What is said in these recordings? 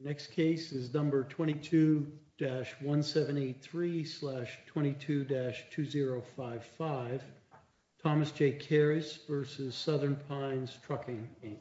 The next case is number 22-1783-22-2055, Thomas J. Kairys v. Southern Pines Trucking, Inc.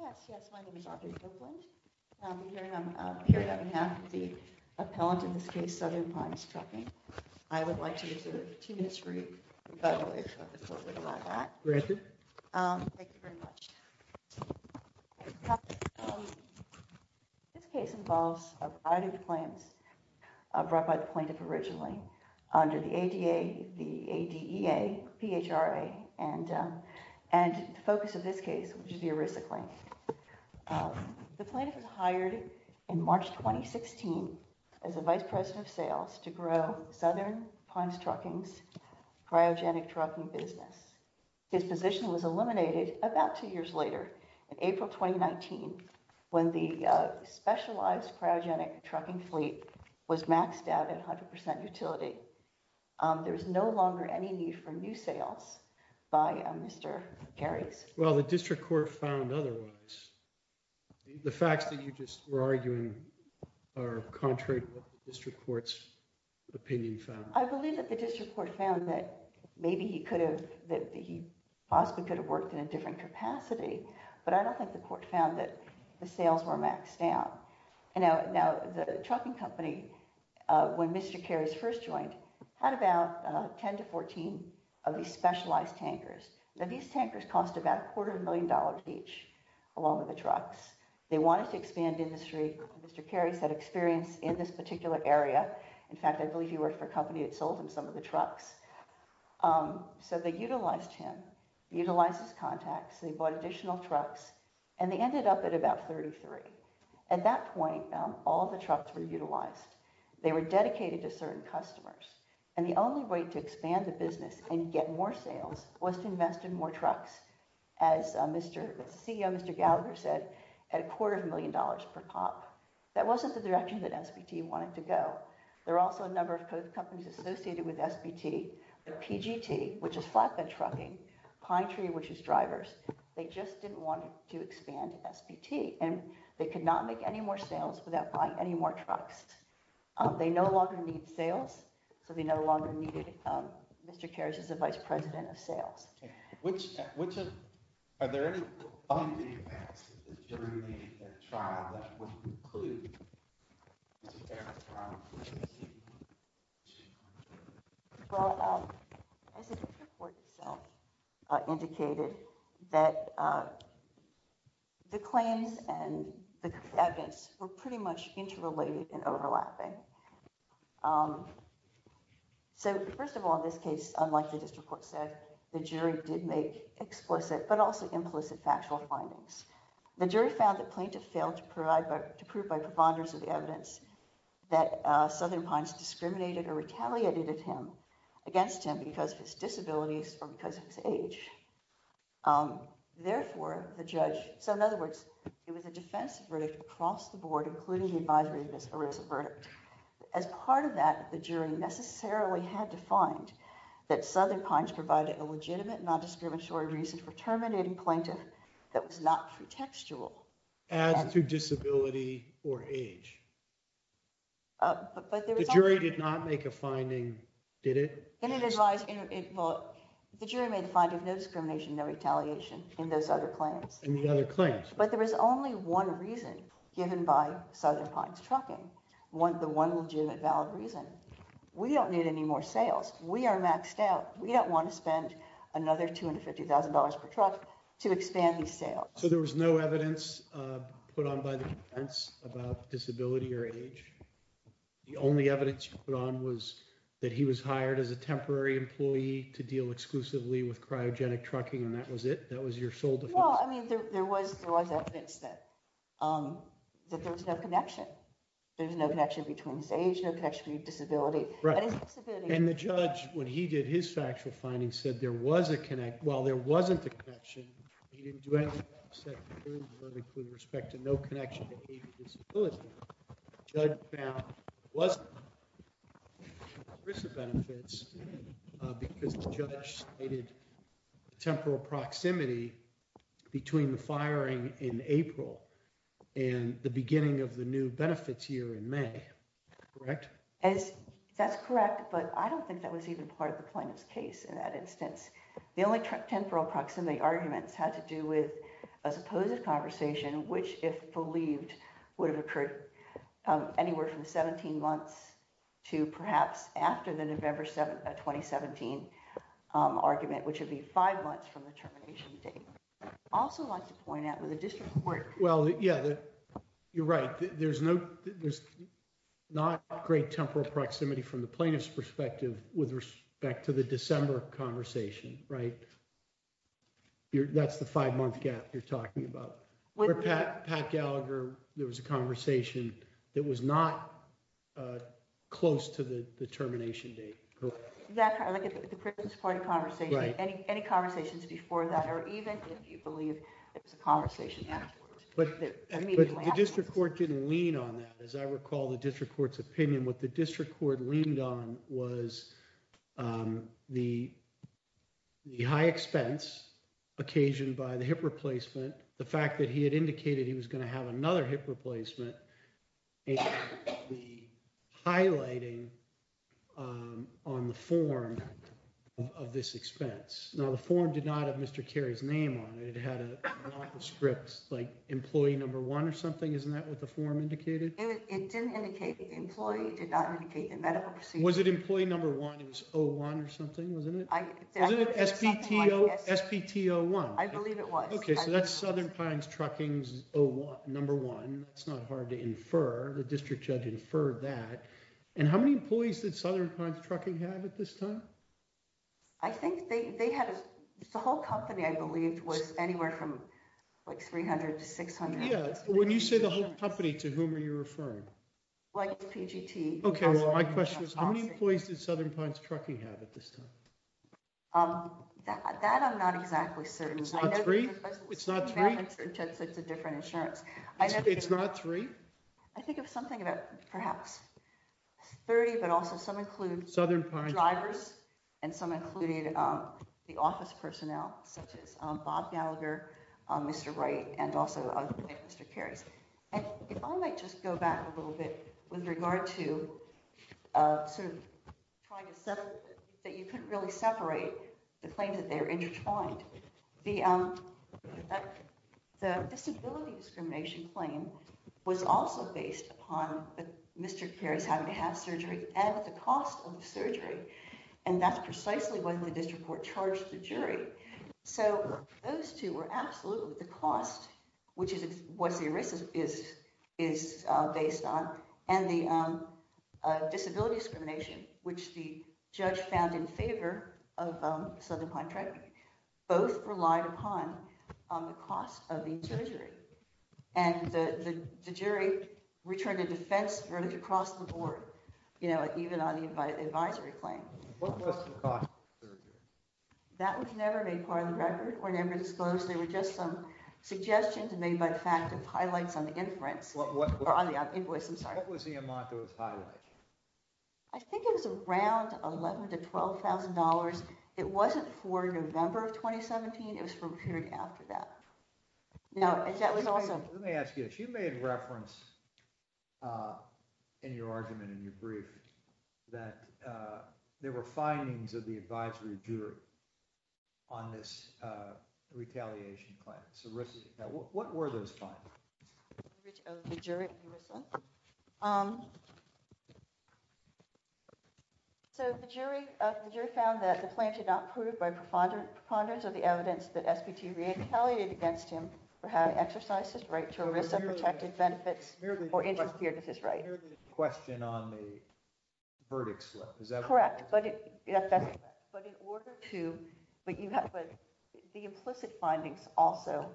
Yes, yes, my name is Audrey Copeland. I'm here on behalf of the appellant in this case, Southern Pines Trucking. I would like to reserve two minutes for you. By the way, I've talked brought by the plaintiff originally under the ADA, the ADEA, PHRA, and the focus of this case, which is the ERISA claim. The plaintiff was hired in March 2016 as a vice president of sales to grow Southern Pines Trucking's cryogenic trucking business. His position was eliminated about two years later, in April 2019, when the specialized cryogenic trucking fleet was maxed out at 100% utility. There is no longer any need for new sales by Mr. Kairys. Well, the district court found otherwise. The facts that you just were arguing are contrary to what the district court's opinion found. I believe that the district court found that maybe he possibly could have worked in a different capacity, but I don't think the court found that the sales were maxed out. Now, the trucking company, when Mr. Kairys first joined, had about 10 to 14 of these specialized tankers. Now, these tankers cost about a quarter of a million dollars each, along with the trucks. They wanted to expand industry. Mr. Kairys had experience in this particular area. In fact, I believe he worked for a company that sold him some of the trucks. So they utilized him, utilized his contacts. They bought additional trucks, and they ended up at about 33. At that point, all the trucks were utilized. They were dedicated to certain customers, and the only way to expand the business and get more sales was to invest in more trucks, as the CEO, Mr. Gallagher, said, at a quarter of a million dollars per pop. That wasn't the direction that SBT wanted to go. There were also a number of companies associated with SBT. PGT, which is flatbed trucking, Pine Tree, which is drivers, they just didn't want to expand SBT, and they could not make any more sales without buying any more trucks. They no longer needed sales, so they no longer needed Mr. Kairys as the vice president of sales. Are there any undue impacts of the jury in that trial that wouldn't include Mr. Kairys trial? Well, as the district court itself indicated, the claims and the evidence were pretty much interrelated and overlapping. So, first of all, in this case, unlike the district court said, the jury did make explicit but also implicit factual findings. The jury found that Plaintiff failed to prove by provonders of the evidence that Southern Pines discriminated or retaliated against him because of his disabilities or because of his age. Therefore, the judge, so in other words, it was a defensive verdict across the board, including the advisory of As part of that, the jury necessarily had to find that Southern Pines provided a legitimate non-discriminatory reason for terminating Plaintiff that was not pretextual. As to disability or age? The jury did not make a finding, did it? The jury made a finding of no discrimination, no retaliation in those other claims. In the other claims. But there was only one reason given by Southern Pines Trucking, the one legitimate valid reason. We don't need any more sales. We are maxed out. We don't want to spend another $250,000 per truck to expand these sales. So there was no evidence put on by the defense about disability or age? The only evidence you put on was that he was hired as a temporary employee to deal exclusively with cryogenic trucking and that was it? That was your sole defense? Well, I mean, there was evidence that there was no connection. There was no connection between his age, no connection between his disability. And the judge, when he did his factual findings, said there was a connection. Well, there wasn't a connection. He didn't do anything to upset the claims, including respect to no connection to age or disability. The judge found there wasn't. Because the judge stated temporal proximity between the firing in April and the beginning of the new benefits here in May, correct? That's correct, but I don't think that was even part of the plaintiff's case in that instance. The only temporal proximity arguments had to do with a supposed conversation, which if believed would have occurred anywhere from 17 months to perhaps after the November 2017 argument, which would be five months from the termination date. I'd also like to point out with the district court... Well, yeah, you're right. There's not great temporal proximity from the plaintiff's perspective with respect to the December conversation, right? That's the five month gap you're talking about. With Pat Gallagher, there was a conversation that was not close to the termination date. Like at the Christmas party conversation, any conversations before that, or even if you believe it was a conversation afterwards. But the district court didn't lean on that. As I recall the district court's opinion, what the district court leaned on was the high expense occasioned by the hip replacement, the fact that he had indicated he was going to have another hip replacement, and the highlighting on the form of this expense. Now, the form did not have Mr. Cary's name on it. It had a script like employee number one or something. Isn't that what the form indicated? It didn't indicate employee. It did not indicate the medical procedure. Was it employee number one? It was O1 or something, wasn't it? I believe it was. Okay, so that's Southern Pines Trucking's O1, number one. It's not hard to infer. The district judge inferred that. And how many employees did Southern Pines Trucking have at this time? I think they had... The whole company, I believe, was anywhere from like 300 to 600. Yeah, when you say the whole company, to whom are you referring? Like PGT. Okay, well my question is how many employees did Southern Pines Trucking have at this time? That I'm not exactly certain. It's not three? It's a different insurance. It's not three? I think it was something about perhaps 30, but also some include drivers and some included the office personnel, such as Bob Gallagher, Mr. Wright, and also Mr. Carries. And if I might just go back a little bit with regard to sort of trying to settle that you couldn't really separate the claims that they were intertwined. The disability discrimination claim was also based upon Mr. Carries having to have surgery at the cost of the surgery, and that's precisely what the district court charged the jury. So those two were absolutely the cost, which is what the ERISA is based on, and the disability discrimination, which the judge found in favor of Southern Pines Trucking, both relied upon the cost of the surgery. And the jury returned a defense verdict across the board, even on the advisory claim. What was the cost of the surgery? That was never made part of the record or never disclosed. There were just some suggestions made by the fact of highlights on the invoice. What was the amount that was highlighted? I think it was around $11,000 to $12,000. It wasn't for November of 2017. It was for a period after that. Let me ask you this. You made reference in your argument in your brief that there were findings of the advisory jury on this retaliation claim. So what were those findings? So the jury found that the claim should not be proved by preponderance of the evidence that SBT retaliated against him for having exercised his right to ERISA-protected benefits or interfered with his right. Here's the question on the verdict slip. Is that correct? Correct. But in order to – but the implicit findings also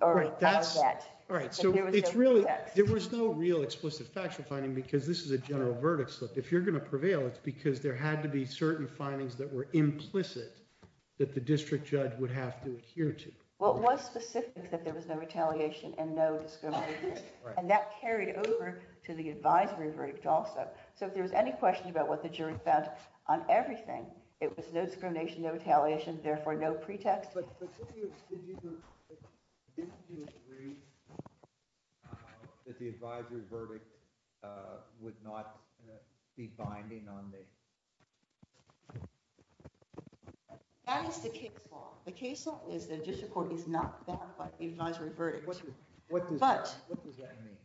are out of that. Right. So it's really – there was no real explicit factual finding because this is a general verdict slip. If you're going to prevail, it's because there had to be certain findings that were that the judge would have to adhere to. Well, it was specific that there was no retaliation and no discrimination. Right. And that carried over to the advisory verdict also. So if there was any question about what the jury found on everything, it was no discrimination, no retaliation, therefore no pretext. But didn't you agree that the advisory verdict would not be binding on the – That is the case law. The case law is that a district court is not bound by the advisory verdict. What does that mean?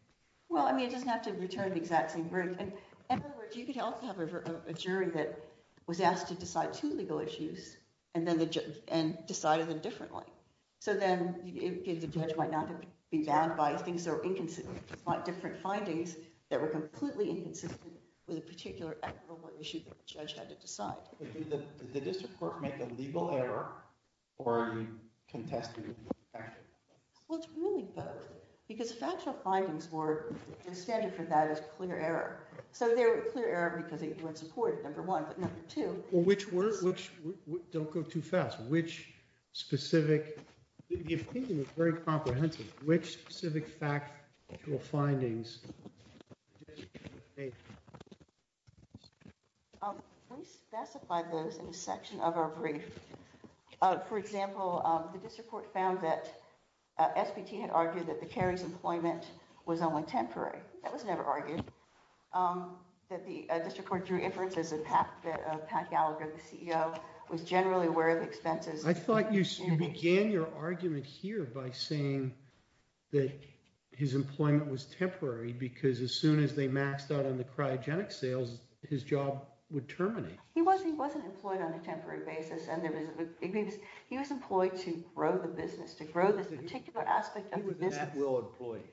Well, I mean it doesn't have to return the exact same verdict. In other words, you could also have a jury that was asked to decide two legal issues and then the judge – and decided them differently. So then the judge might not be bound by things that are inconsistent. He might want different findings that were completely inconsistent with a particular actual issue that the judge had to decide. Did the district courts make a legal error or a contested error? Well, it's really both. Because factual findings were – the standard for that is clear error. So they were clear error because they weren't supported, number one. But number two – Well, which were – don't go too fast. Which specific – the opinion was very comprehensive. Which specific factual findings did the district court make? We specified those in a section of our brief. For example, the district court found that SPT had argued that the Cary's employment was only temporary. That was never argued. That the district court drew inferences that Pat Gallagher, the CEO, was generally aware of the expenses. I thought you began your argument here by saying that his employment was temporary because as soon as they maxed out on the cryogenic sales, his job would terminate. He wasn't employed on a temporary basis. He was employed to grow the business, to grow this particular aspect of the business. He was an at-will employee,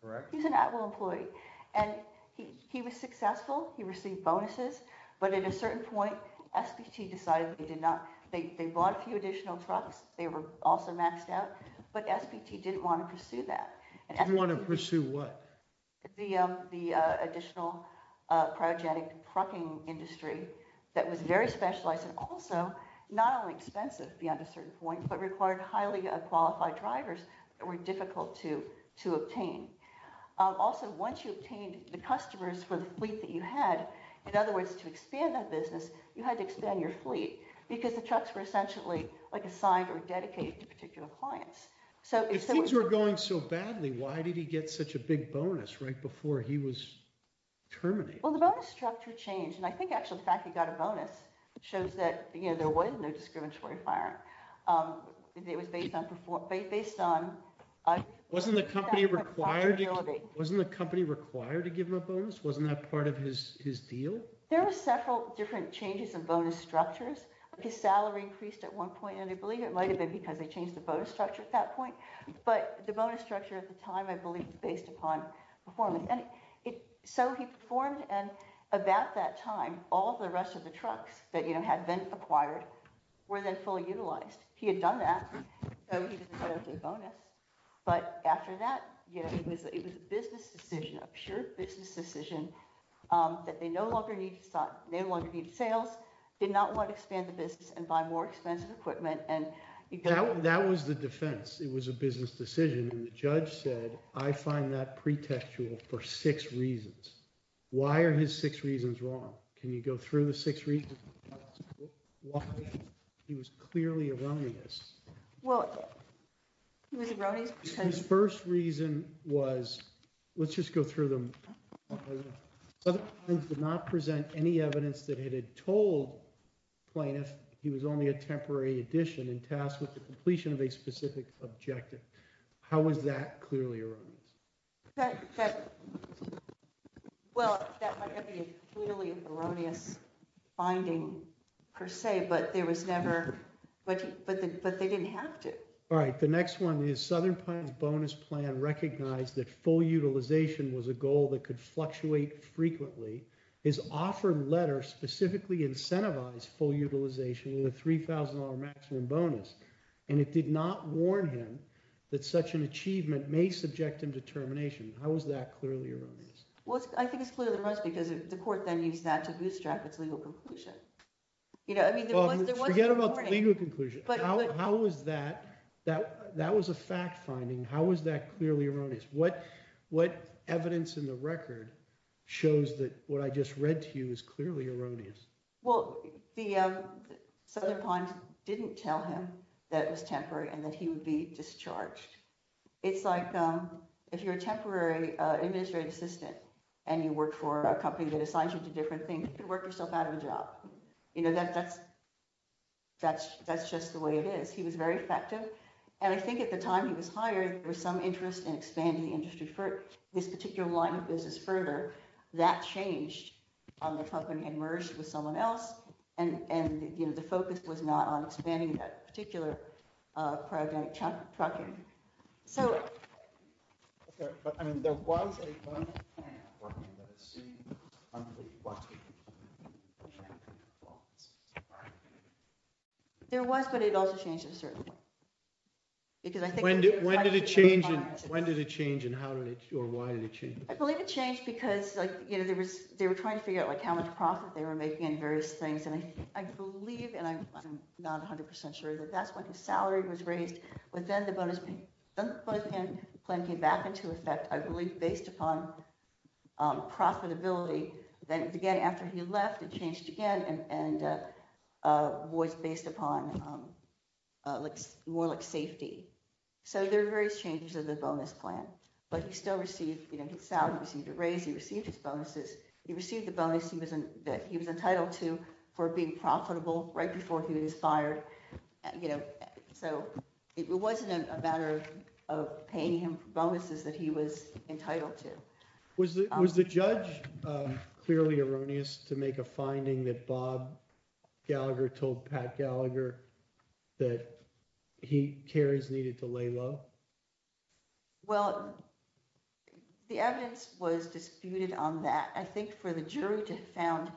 correct? He was an at-will employee. And he was successful. He received bonuses. But at a certain point, SPT decided they did not – they bought a few additional trucks. They were also maxed out. But SPT didn't want to pursue that. Didn't want to pursue what? The additional cryogenic trucking industry that was very specialized and also not only expensive beyond a certain point, but required highly qualified drivers that were difficult to obtain. Also, once you obtained the customers for the fleet that you had, in other words, to expand that business, you had to expand your fleet because the trucks were essentially assigned or dedicated to particular clients. If things were going so badly, why did he get such a big bonus right before he was terminated? Well, the bonus structure changed. And I think actually the fact that he got a bonus shows that there was no discriminatory firing. It was based on – Wasn't the company required to give him a bonus? Wasn't that part of his deal? There were several different changes in bonus structures. His salary increased at one point. And I believe it might have been because they changed the bonus structure at that point. But the bonus structure at the time, I believe, was based upon performance. And so he performed. And about that time, all the rest of the trucks that had been acquired were then fully utilized. He had done that, so he didn't get a big bonus. But after that, it was a business decision, a pure business decision that they no longer needed sales, did not want to expand the business and buy more expensive equipment. That was the defense. It was a business decision. And the judge said, I find that pretextual for six reasons. Why are his six reasons wrong? Can you go through the six reasons why he was clearly erroneous? Well, he was erroneous because— His first reason was—let's just go through them. Other clients did not present any evidence that it had told plaintiffs he was only a temporary addition and tasked with the completion of a specific objective. How was that clearly erroneous? Well, that might not be a clearly erroneous finding per se, but there was never— But they didn't have to. All right. The next one is Southern Pine's bonus plan recognized that full utilization was a goal that could fluctuate frequently. His offer letter specifically incentivized full utilization with a $3,000 maximum bonus, and it did not warn him that such an achievement may subject him to termination. How was that clearly erroneous? Well, I think it's clearly erroneous because the court then used that to bootstrap its legal conclusion. Forget about the legal conclusion. How was that—that was a fact finding. How was that clearly erroneous? What evidence in the record shows that what I just read to you is clearly erroneous? Well, Southern Pine didn't tell him that it was temporary and that he would be discharged. It's like if you're a temporary administrative assistant and you work for a company that that's just the way it is. He was very effective. And I think at the time he was hired, there was some interest in expanding the industry for this particular line of business further. That changed when the company emerged with someone else, and the focus was not on expanding that particular program. So— Okay, but I mean, there was a— There was, but it also changed in a certain way. Because I think— When did it change and how did it—or why did it change? I believe it changed because they were trying to figure out how much profit they were making and various things, and I believe, and I'm not 100% sure, that that's when the salary was raised. But then the bonus plan came back into effect, I believe, based upon profitability. Then again, after he left, it changed again and was based upon more like safety. So there were various changes of the bonus plan. But he still received his salary, he received a raise, he received his bonuses. He received the bonus that he was entitled to for being profitable right before he was So it wasn't a matter of paying him bonuses that he was entitled to. Was the judge clearly erroneous to make a finding that Bob Gallagher told Pat Gallagher that he—Carrie's needed to lay low? Well, the evidence was disputed on that. I think for the jury to have found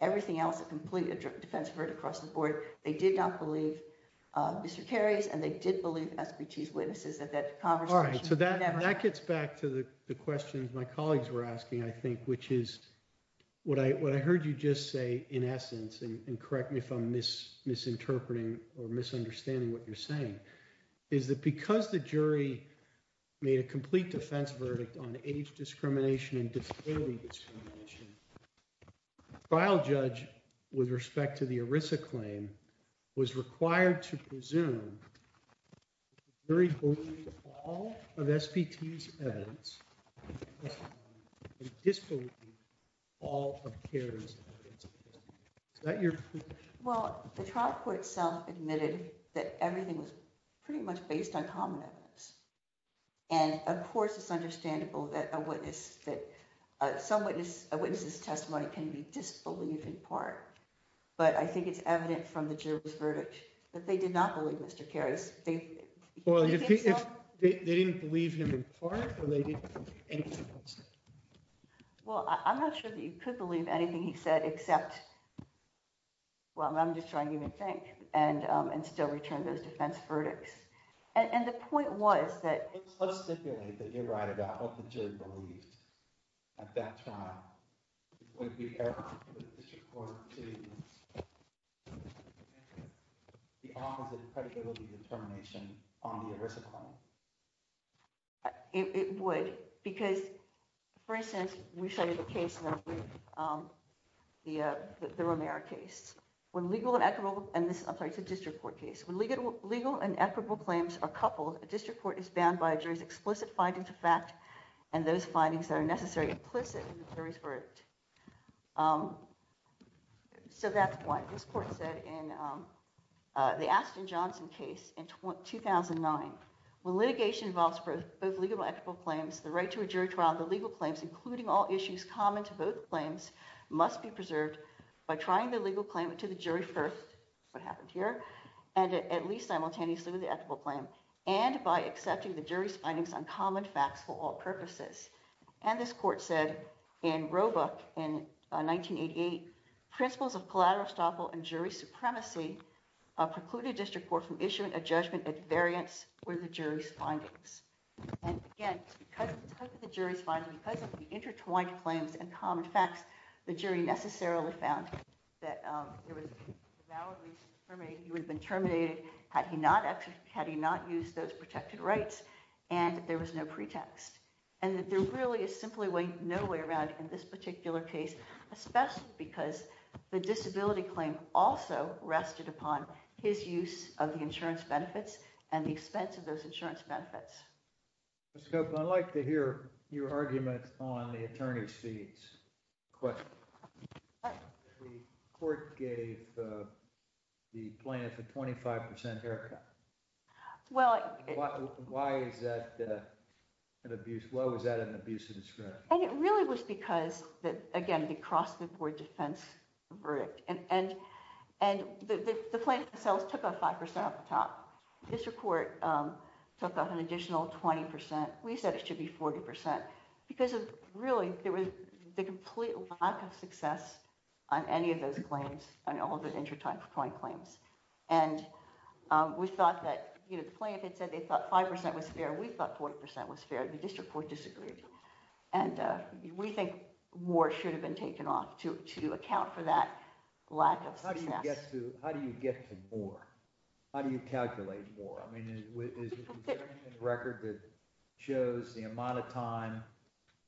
everything else a complete defense of right across the board, they did not believe Mr. Carries and they did believe SBT's witnesses that that conversation— All right, so that gets back to the questions my colleagues were asking, I think, which is what I heard you just say, in essence, and correct me if I'm misinterpreting or misunderstanding what you're saying, is that because the jury made a complete defense on age discrimination and disability discrimination, the trial judge, with respect to the ERISA claim, was required to presume that the jury believed all of SBT's evidence and disbelieved all of Carrie's evidence. Is that your— Well, the trial court itself admitted that everything was pretty much based on common evidence. And, of course, it's understandable that a witness's testimony can be disbelieved in part, but I think it's evident from the jury's verdict that they did not believe Mr. Carries. Well, they didn't believe him in part or they didn't believe anything else? Well, I'm not sure that you could believe anything he said except—well, I'm just trying to even think and still return those defense verdicts. And the point was that— Let's stipulate that you're right about what the jury believed at that trial. It would be error for the district court to make the opposite predictability determination on the ERISA claim. It would because, for instance, we show you the case, the Romero case. When legal and equitable—I'm sorry, it's a district court case. When legal and equitable claims are coupled, a district court is bound by a jury's explicit findings of fact and those findings that are necessary implicit in the jury's verdict. So that's what this court said in the Ashton-Johnson case in 2009. When litigation involves both legal and equitable claims, the right to a jury trial, including all issues common to both claims, must be preserved by trying the legal claimant to the jury first— that's what happened here—and at least simultaneously with the equitable claim and by accepting the jury's findings on common facts for all purposes. And this court said in Roebuck in 1988, principles of collateral estoppel and jury supremacy precluded district court from issuing a judgment that variants were the jury's findings. And again, it's because of the type of the jury's findings, because of the intertwined claims and common facts, the jury necessarily found that it was validly determined he would have been terminated had he not used those protected rights and there was no pretext. And that there really is simply no way around in this particular case, especially because the disability claim also rested upon his use of the insurance benefits and the expense of those insurance benefits. Ms. Cope, I'd like to hear your argument on the attorney's fees question. The court gave the plaintiff a 25 percent haircut. Why was that an abuse of discretion? And it really was because, again, the cross-the-board defense verdict. And the plaintiff themselves took a 5 percent off the top. The district court took off an additional 20 percent. We said it should be 40 percent because of really the complete lack of success on any of those claims, on all the intertwined claims. And we thought that, you know, the plaintiff had said they thought 5 percent was fair. We thought 40 percent was fair. The district court disagreed. And we think more should have been taken off to account for that lack of success. How do you get to more? How do you calculate more? I mean, is there any record that shows the amount of time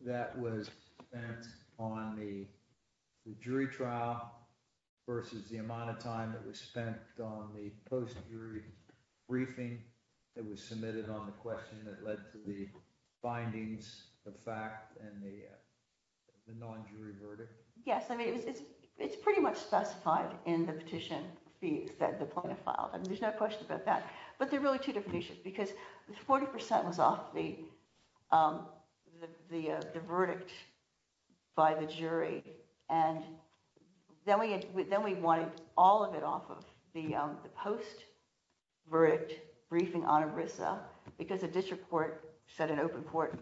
that was spent on the jury trial versus the amount of time that was spent on the post-jury briefing that was submitted on the question that led to the findings, the fact, and the non-jury verdict? Yes. I mean, it's pretty much specified in the petition fees that the plaintiff filed. I mean, there's no question about that. But they're really two different issues because 40 percent was off the verdict by the jury. And then we wanted all of it off of the post-verdict briefing on ERISA because the district court said in open court,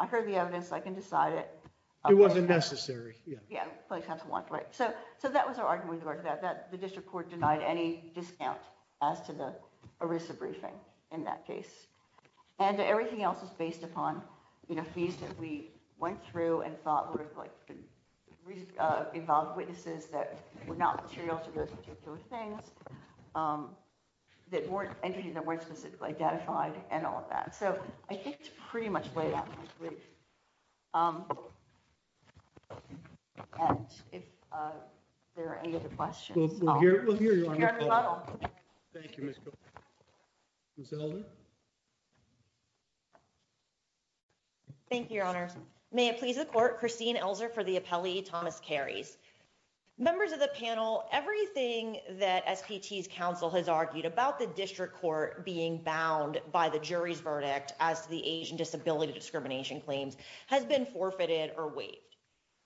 I heard the evidence. I can decide it. It wasn't necessary. Yeah. So that was our argument. The district court denied any discount as to the ERISA briefing in that case. And everything else is based upon fees that we went through and thought would have involved witnesses that were not materials for those particular things, that weren't entities that weren't specifically identified, and all of that. So I think it's pretty much laid out in this brief. And if there are any other questions. We'll hear you on the phone. We'll hear you on the phone. Thank you, Ms. Cooper. Ms. Elder. Thank you, Your Honors. May it please the court, Christine Elzer for the appellee, Thomas Carries. Members of the panel, everything that SPT's counsel has argued about the district court being bound by the jury's verdict as to the age and disability discrimination claims has been forfeited or waived.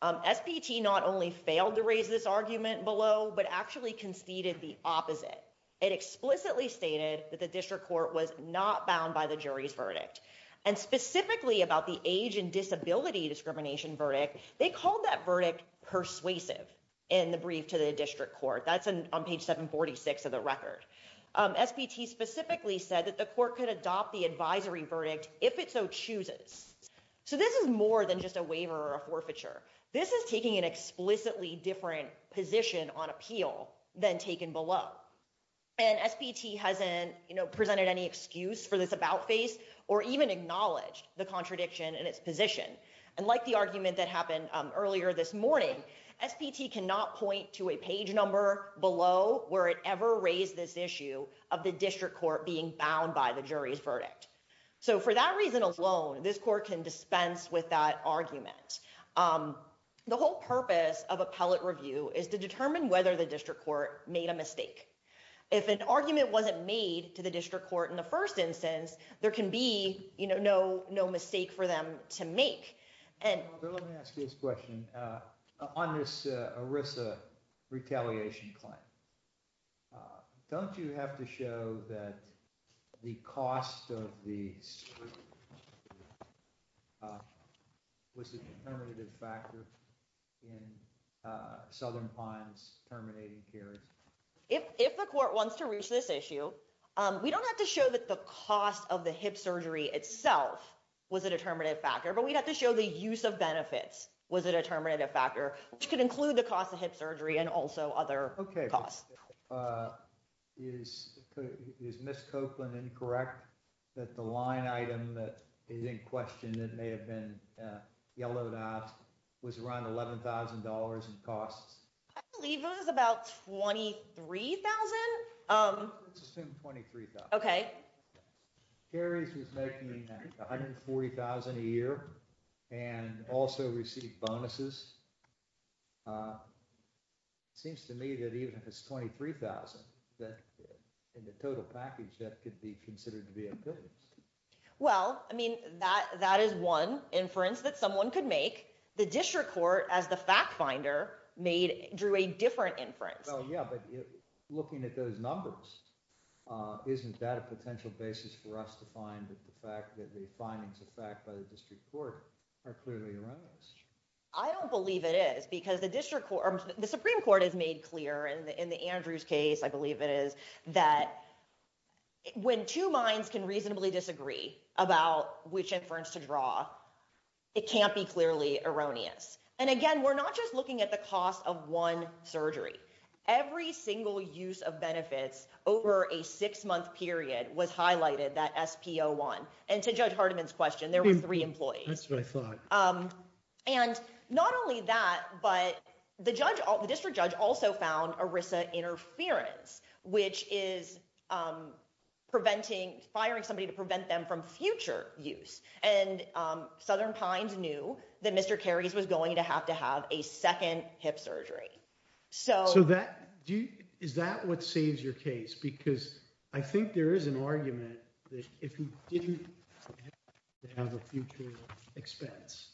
SPT not only failed to raise this argument below, but actually conceded the opposite. It explicitly stated that the district court was not bound by the jury's verdict. And specifically about the age and disability discrimination verdict, they called that verdict persuasive in the brief to the district court. That's on page 746 of the record. SPT specifically said that the court could adopt the advisory verdict if it so chooses. So this is more than just a waiver or a forfeiture. This is taking an explicitly different position on appeal than taken below. And SPT hasn't presented any excuse for this about face or even acknowledged the contradiction in its position. And like the argument that happened earlier this morning, SPT cannot point to a page number below where it ever raised this issue of the district court being bound by the jury's verdict. So for that reason alone, this court can dispense with that argument. The whole purpose of appellate review is to determine whether the district court made a mistake. If an argument wasn't made to the district court in the first instance, there can be no no mistake for them to make. Let me ask you this question. On this ERISA retaliation claim, don't you have to show that the cost of the surgery was a determinative factor in Southern Pines terminating Cary's? If the court wants to reach this issue, we don't have to show that the cost of the hip surgery itself was a determinative factor, but we'd have to show the use of benefits was a determinative factor, which could include the cost of hip surgery and also other costs. Is Miss Copeland incorrect that the line item that is in question that may have been yellowed out was around eleven thousand dollars in costs? I believe it was about twenty three thousand. Let's assume twenty three thousand. OK. Cary's was making one hundred and forty thousand a year and also received bonuses. Seems to me that even if it's twenty three thousand that in the total package, that could be considered to be a bonus. Well, I mean, that that is one inference that someone could make. The district court, as the fact finder made, drew a different inference. Yeah, but looking at those numbers, isn't that a potential basis for us to find that the fact that the findings of fact by the district court are clearly around us? I don't believe it is because the district court, the Supreme Court has made clear in the Andrews case, I believe it is that when two minds can reasonably disagree about which inference to draw, it can't be clearly erroneous. And again, we're not just looking at the cost of one surgery. Every single use of benefits over a six month period was highlighted that SPO one. And to judge Hardiman's question, there were three employees. That's what I thought. And not only that, but the judge, the district judge also found Arisa interference, which is preventing firing somebody to prevent them from future use. And Southern Pines knew that Mr. Carries was going to have to have a second hip surgery. So that is that what saves your case? Because I think there is an argument that if you didn't have a future expense.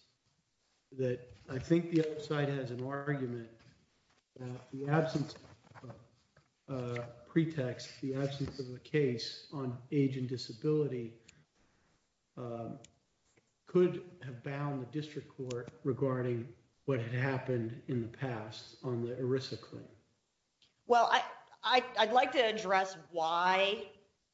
Well, I, I'd like to address why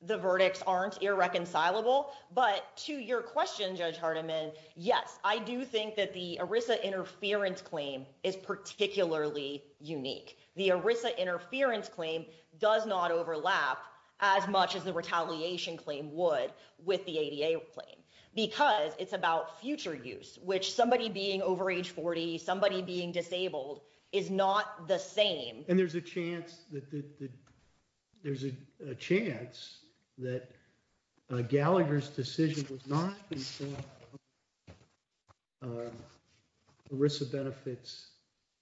the verdicts aren't irreconcilable. But to your question, Judge Hardiman. Yes, I do. I do think that the Arisa interference claim is particularly unique. The Arisa interference claim does not overlap as much as the retaliation claim would with the ADA claim, because it's about future use, which somebody being over age 40, somebody being disabled is not the same. And there's a chance that there's a chance that Gallagher's decision was not Arisa benefits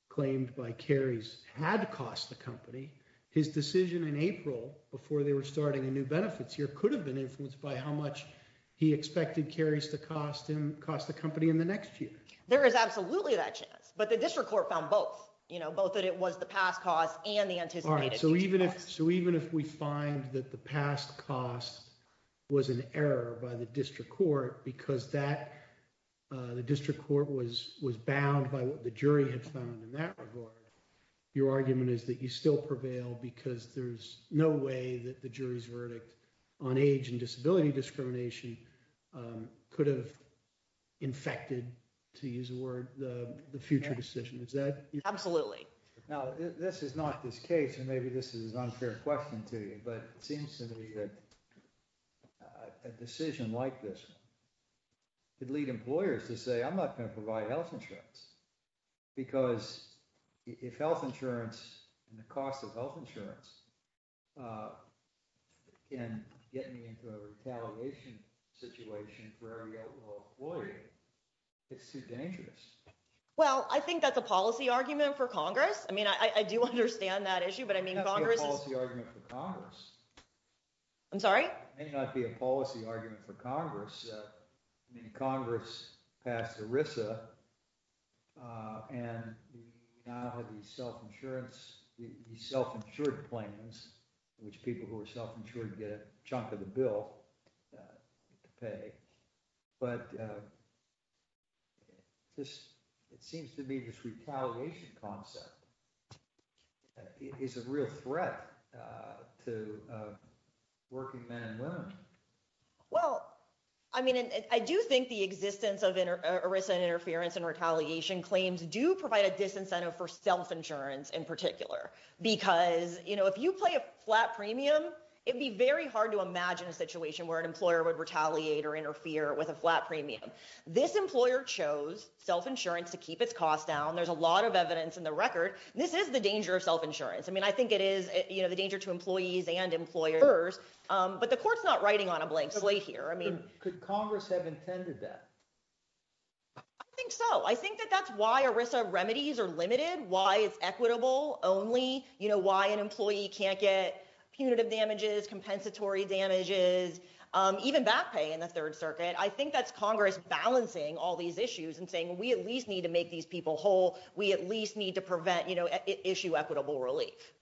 claimed by Carries had cost the company. His decision in April before they were starting a new benefits here could have been influenced by how much he expected Carries to cost him cost the company in the next year. There is absolutely that chance, but the district court found both both that it was the past cost and the anticipated. So even if so, even if we find that the past cost was an error by the district court, because that the district court was was bound by what the jury had found in that report. Your argument is that you still prevail because there's no way that the jury's verdict on age and disability discrimination could have infected to use the word the future decision is that absolutely. Now, this is not this case, and maybe this is an unfair question to you, but it seems to me that a decision like this could lead employers to say, I'm not going to provide health insurance. Because if health insurance and the cost of health insurance. And get me into a retaliation situation for a lawyer. It's too dangerous. Well, I think that's a policy argument for Congress. I mean, I do understand that issue, but I mean, Congress is the argument for Congress. I'm sorry. It might be a policy argument for Congress. Congress passed the Risa. And the self insurance self insured plans, which people who are self insured get a chunk of the bill to pay. But. This, it seems to me this retaliation concept is a real threat to working men and women. Well, I mean, I do think the existence of interference and retaliation claims do provide a disincentive for self insurance in particular, because, you know, if you play a flat premium, it'd be very hard to imagine a situation where an employer would retaliate or interfere with a flat premium. This employer chose self insurance to keep its cost down. There's a lot of evidence in the record. This is the danger of self insurance. I mean, I think it is the danger to employees and employers, but the court's not writing on a blank slate here. I mean, Congress have intended that. I think so. I think that that's why Arisa remedies are limited, why it's equitable only why an employee can't get punitive damages, compensatory damages, even back pay in the 3rd Circuit. I think that's Congress balancing all these issues and saying, we at least need to make these people whole. We at least need to prevent issue equitable relief.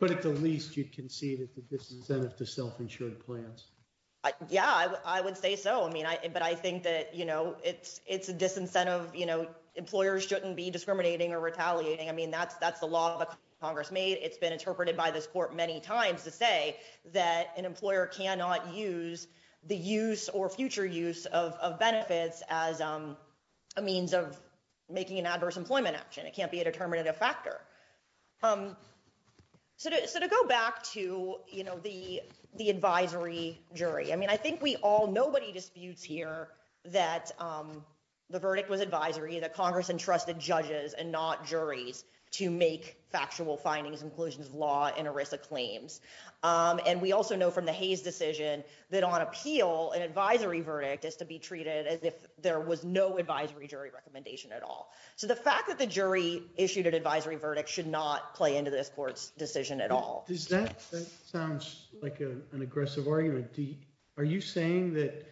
But at the least, you can see that this incentive to self insured plans. Yeah, I would say so. I mean, I, but I think that, you know, it's it's a disincentive employers shouldn't be discriminating or retaliating. I mean, that's that's the law that Congress made. It's been interpreted by this court many times to say that an employer cannot use the use or future use of benefits as a means of making an adverse employment action. It can't be a determinative factor. So, to go back to, you know, the, the advisory jury, I mean, I think we all nobody disputes here that the verdict was advisory that Congress entrusted judges and not juries to make factual findings inclusions law and Arisa claims. And we also know from the Hayes decision that on appeal and advisory verdict is to be treated as if there was no advisory jury recommendation at all. So, the fact that the jury issued an advisory verdict should not play into this court's decision at all. Sounds like an aggressive argument. Are you saying that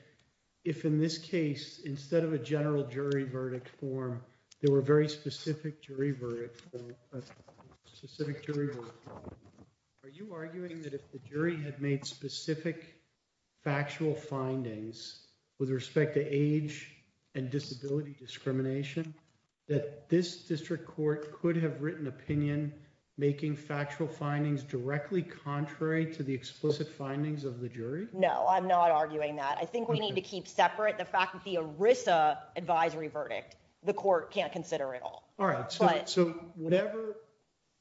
if, in this case, instead of a general jury verdict form, there were very specific jury. Are you arguing that if the jury had made specific factual findings with respect to age and disability discrimination, that this district court could have written opinion, making factual findings directly contrary to the explicit findings of the jury. No, I'm not arguing that I think we need to keep separate the fact that the Arisa advisory verdict, the court can't consider at all. All right. So, whatever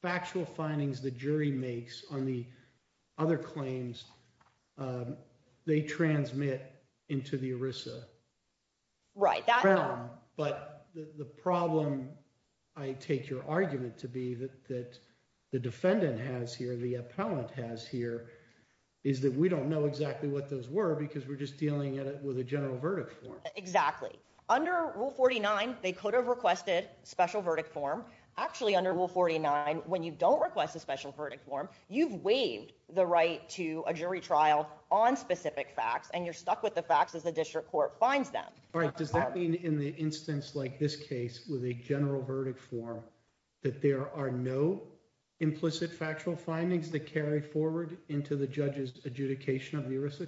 factual findings the jury makes on the other claims they transmit into the Arisa. Right. But the problem I take your argument to be that that the defendant has here the appellant has here is that we don't know exactly what those were because we're just dealing with a general verdict. Exactly. Under rule forty nine, they could have requested special verdict form actually under rule forty nine. When you don't request a special verdict form, you've waived the right to a jury trial on specific facts and you're stuck with the facts as the district court finds them. All right. Does that mean in the instance like this case with a general verdict form that there are no implicit factual findings that carry forward into the judges adjudication of the risk?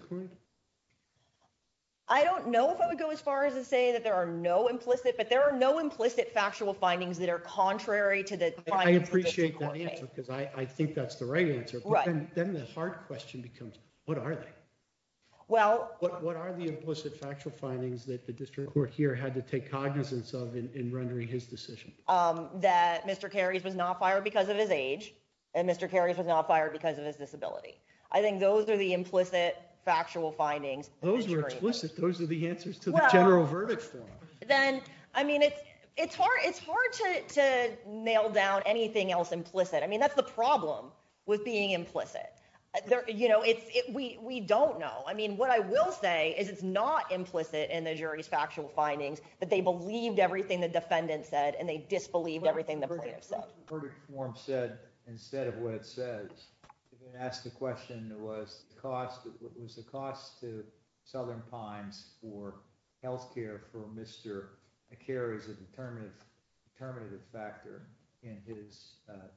I don't know if I would go as far as to say that there are no implicit, but there are no implicit factual findings that are contrary to the. I appreciate that answer because I think that's the right answer. Then the hard question becomes, what are they? Well, what are the implicit factual findings that the district court here had to take cognizance of in rendering his decision that Mr. Those are explicit. Those are the answers to the general verdict form. Then I mean, it's it's hard. It's hard to to nail down anything else implicit. I mean, that's the problem with being implicit. You know, it's we we don't know. I mean, what I will say is it's not implicit in the jury's factual findings, but they believed everything the defendant said and they disbelieved everything the verdict form said instead of what it says. Asked the question was cost was the cost to Southern Pines or health care for Mr. It carries a determinative, determinative factor in his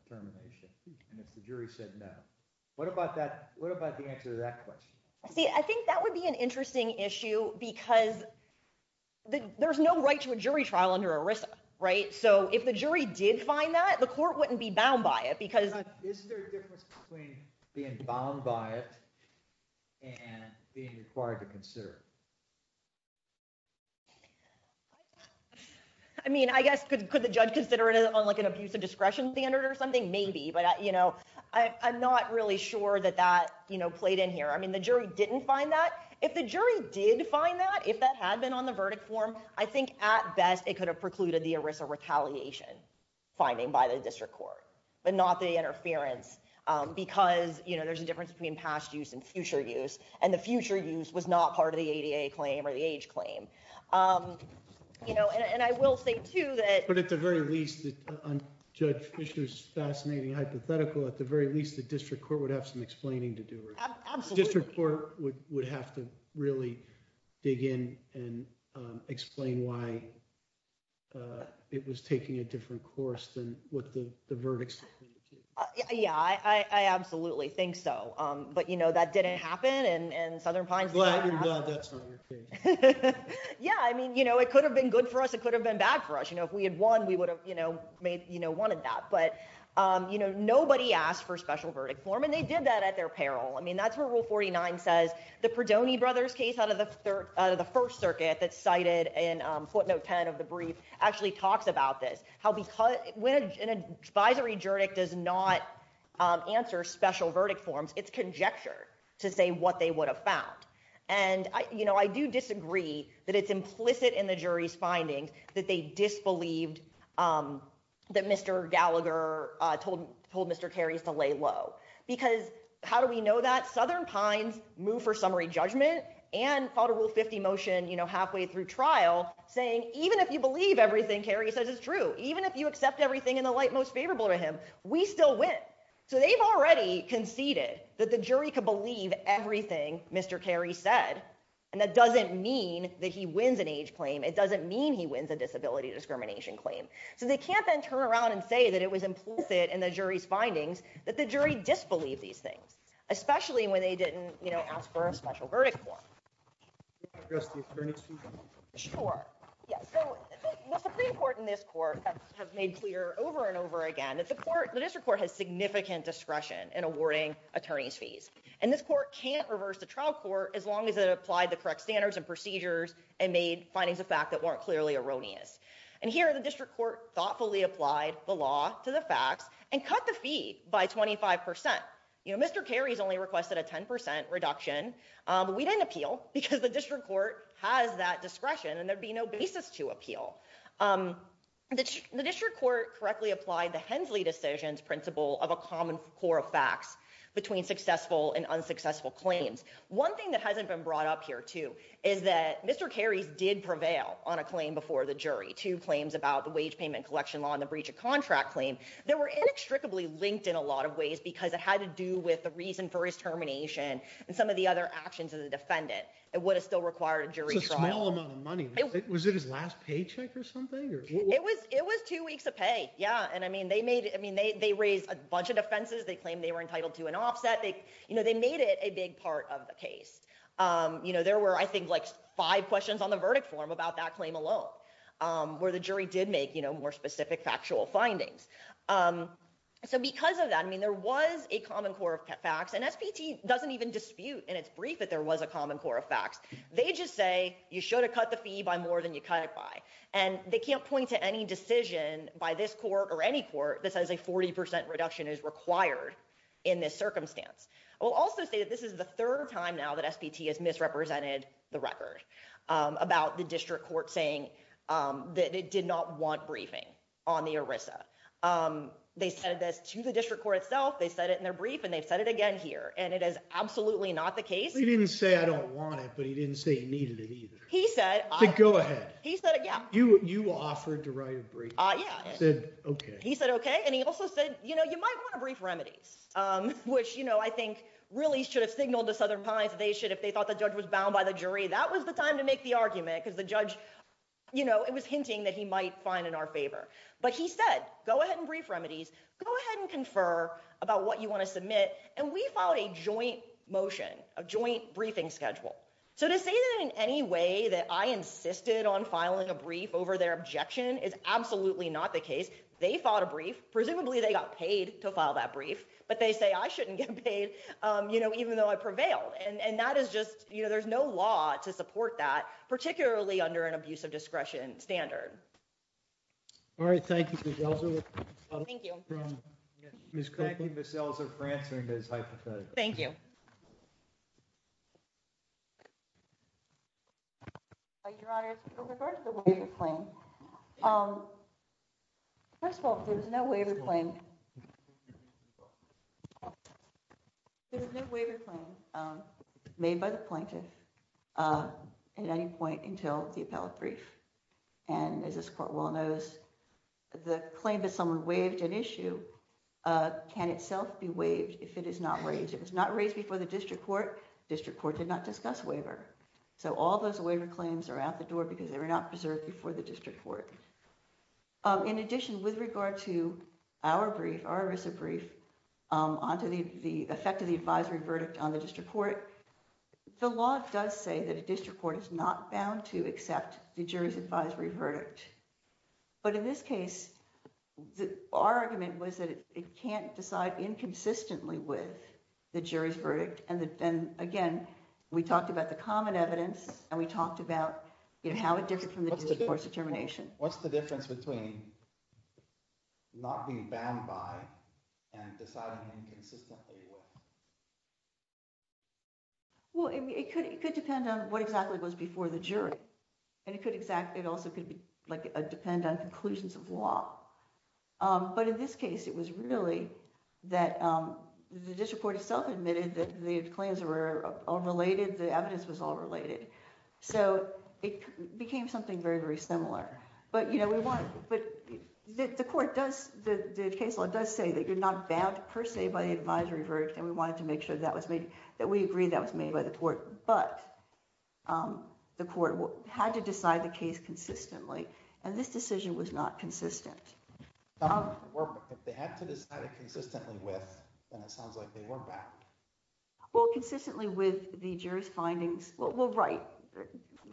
termination. And if the jury said no, what about that? What about the answer to that question? See, I think that would be an interesting issue because there's no right to a jury trial under Arisa. Right. So if the jury did find that the court wouldn't be bound by it because. Is there a difference between being bound by it? And being required to consider. I mean, I guess, could the judge consider it on, like, an abuse of discretion standard or something? Maybe, but, you know, I'm not really sure that that played in here. I mean, the jury didn't find that. If the jury did find that, if that had been on the verdict form, I think at best, it could have precluded the Arisa retaliation. Finding by the district court, but not the interference because there's a difference between past use and future use, and the future use was not part of the claim or the age claim. You know, and I will say, too, that. But at the very least, Judge Fisher's fascinating hypothetical, at the very least, the district court would have some explaining to do. Absolutely. District court would have to really dig in and explain why it was taking a different course than what the verdicts. Yeah, I absolutely think so. But, you know, that didn't happen. And Southern Pines. Yeah, I mean, you know, it could have been good for us. It could have been bad for us. You know, if we had won, we would have, you know, made, you know, one of that. But, you know, nobody asked for special verdict form, and they did that at their peril. I mean, that's where rule forty nine says the Perdoni brothers case out of the third out of the First Circuit that cited in footnote ten of the brief actually talks about this. When an advisory jury does not answer special verdict forms, it's conjecture to say what they would have found. And, you know, I do disagree that it's implicit in the jury's findings that they disbelieved that Mr. Gallagher told Mr. Because how do we know that Southern Pines move for summary judgment and follow rule fifty motion halfway through trial saying even if you believe everything Carrie says is true, even if you accept everything in the light most favorable to him, we still win. So they've already conceded that the jury could believe everything Mr. And that doesn't mean that he wins an age claim. It doesn't mean he wins a disability discrimination claim. So they can't then turn around and say that it was implicit in the jury's findings that the jury disbelieve these things, especially when they didn't ask for a special verdict. Sure. Yes, so Supreme Court in this court have made clear over and over again that the court, the district court has significant discretion and awarding attorneys fees. And this court can't reverse the trial court as long as it applied the correct standards and procedures and made findings of fact that weren't clearly erroneous. And here the district court thoughtfully applied the law to the facts and cut the fee by twenty five percent. You know, Mr. Kerry's only requested a ten percent reduction. We didn't appeal because the district court has that discretion and there'd be no basis to appeal. The district court correctly applied the Hensley decisions principle of a common core of facts between successful and unsuccessful claims. One thing that hasn't been brought up here, too, is that Mr. Kerry's did prevail on a claim before the jury to claims about the wage payment collection law and the breach of contract claim. There were inextricably linked in a lot of ways because it had to do with the reason for his termination and some of the other actions of the defendant. It would have still required a jury trial money. Was it his last paycheck or something? It was it was two weeks of pay. Yeah. And I mean, they made I mean, they raised a bunch of defenses. They claim they were entitled to an offset. You know, they made it a big part of the case. You know, there were, I think, like five questions on the verdict form about that claim alone, where the jury did make, you know, more specific factual findings. So because of that, I mean, there was a common core of facts and S.P.T. doesn't even dispute in its brief that there was a common core of facts. They just say you should have cut the fee by more than you cut it by. And they can't point to any decision by this court or any court that says a 40 percent reduction is required in this circumstance. I will also say that this is the third time now that S.P.T. has misrepresented the record about the district court saying that it did not want briefing on the ERISA. They said this to the district court itself. They said it in their brief and they've said it again here. And it is absolutely not the case. He didn't say I don't want it, but he didn't say he needed it either. He said I go ahead. He said, yeah, you you offered to write a brief. I said, OK. He said, OK. And he also said, you know, you might want a brief remedies, which, you know, I think really should have signaled to Southern Pines. They should if they thought the judge was bound by the jury, that was the time to make the argument because the judge, you know, it was hinting that he might find in our favor. But he said, go ahead and brief remedies, go ahead and confer about what you want to submit. And we filed a joint motion, a joint briefing schedule. So to say that in any way that I insisted on filing a brief over their objection is absolutely not the case. They fought a brief. Presumably they got paid to file that brief. But they say I shouldn't get paid, you know, even though I prevailed. And that is just, you know, there's no law to support that, particularly under an abuse of discretion standard. All right. Thank you. Thank you. Thank you. Thank you. First of all, there's no way to claim. There's no way to claim made by the plaintiff at any point until the appellate brief. And as this court well knows, the claim that someone waived an issue can itself be waived if it is not raised. It was not raised before the district court. District court did not discuss waiver. So all those waiver claims are out the door because they were not preserved before the district court. In addition, with regard to our brief, our recent brief on to the effect of the advisory verdict on the district court. The law does say that a district court is not bound to accept the jury's advisory verdict. But in this case, our argument was that it can't decide inconsistently with the jury's verdict. And then again, we talked about the common evidence and we talked about how it differs from the determination. What's the difference between not being banned by and deciding inconsistently? Well, it could it could depend on what exactly it was before the jury and it could exactly. It also could be like a depend on conclusions of law. But in this case, it was really that the district court itself admitted that the claims were all related. The evidence was all related. So it became something very, very similar. But, you know, we want but the court does the case law does say that you're not bound per se by the advisory verdict. And we wanted to make sure that was made that we agree that was made by the court. But the court had to decide the case consistently. And this decision was not consistent. If they had to decide it consistently with, then it sounds like they weren't bound. Well, consistently with the jury's findings. Well, right.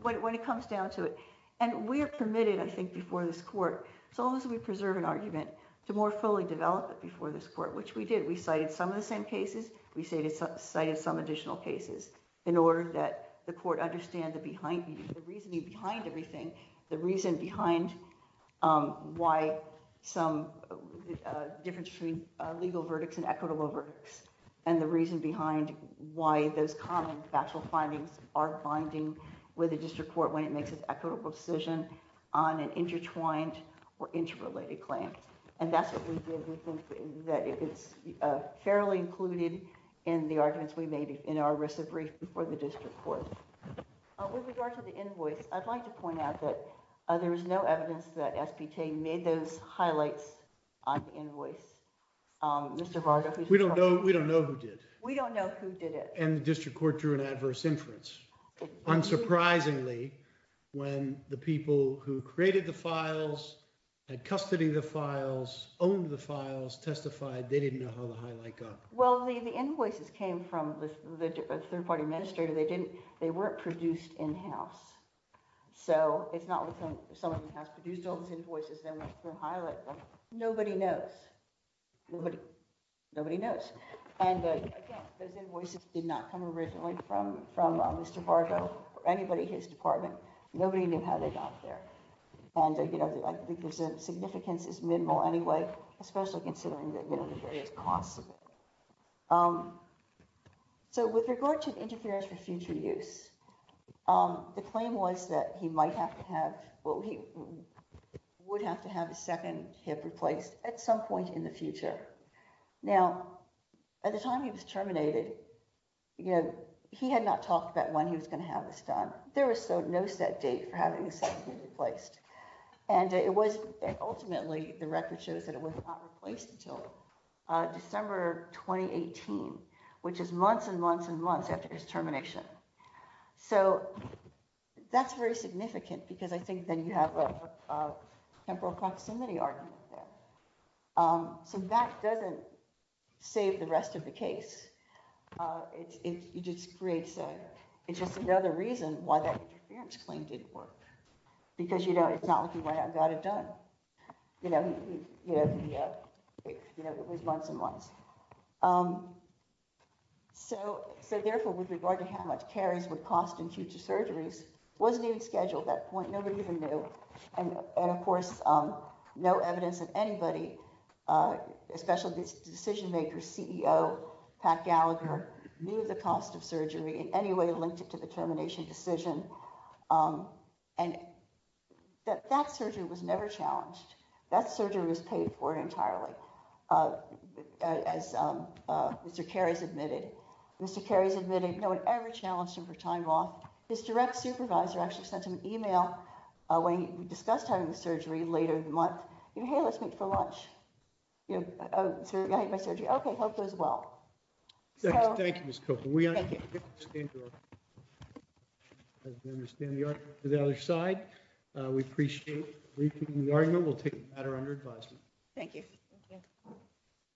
When it comes down to it and we are permitted, I think, before this court, so long as we preserve an argument to more fully develop it before this court, which we did, we cited some of the same cases. We say this cited some additional cases in order that the court understand the behind the reasoning behind everything. The reason behind why some difference between legal verdicts and equitable verdicts. And the reason behind why those common factual findings are binding with the district court, when it makes an equitable decision on an intertwined or interrelated claim. And that's what we did. We think that it's fairly included in the arguments we made in our recent brief before the district court. With regard to the invoice, I'd like to point out that there is no evidence that SBK made those highlights on invoice. We don't know. We don't know who did. We don't know who did it. And the district court drew an adverse inference. Unsurprisingly, when the people who created the files had custody of the files, owned the files, testified, they didn't know how the highlight got. Well, the invoices came from the third party administrator. They didn't. They weren't produced in-house. So it's not like someone has produced all these invoices. Nobody knows. Nobody knows. And again, those invoices did not come originally from Mr. Bargo or anybody in his department. Nobody knew how they got there. And I think the significance is minimal anyway, especially considering the various costs. So with regard to interference for future use, the claim was that he would have to have a second hip replaced at some point in the future. Now, at the time he was terminated, he had not talked about when he was going to have this done. There was no set date for having the second hip replaced. And it was ultimately the record shows that it was not replaced until December 2018, which is months and months and months after his termination. So that's very significant because I think then you have a temporal proximity argument there. So that doesn't save the rest of the case. It's just another reason why that interference claim didn't work, because it's not like he went out and got it done. It was months and months. So therefore, with regard to how much carries would cost in future surgeries, it wasn't even scheduled at that point. Nobody even knew. And of course, no evidence that anybody, especially this decision maker, CEO Pat Gallagher, knew the cost of surgery in any way linked to the termination decision. And that that surgery was never challenged. That surgery was paid for entirely. As Mr. Carries admitted, Mr. Carries admitted no one ever challenged him for time off. His direct supervisor actually sent him an email when he discussed having the surgery later in the month. Hey, let's meet for lunch. OK, hope goes well. Thank you, Ms. Copeland. We understand the argument to the other side. We appreciate the argument. We'll take the matter under advisement. Thank you.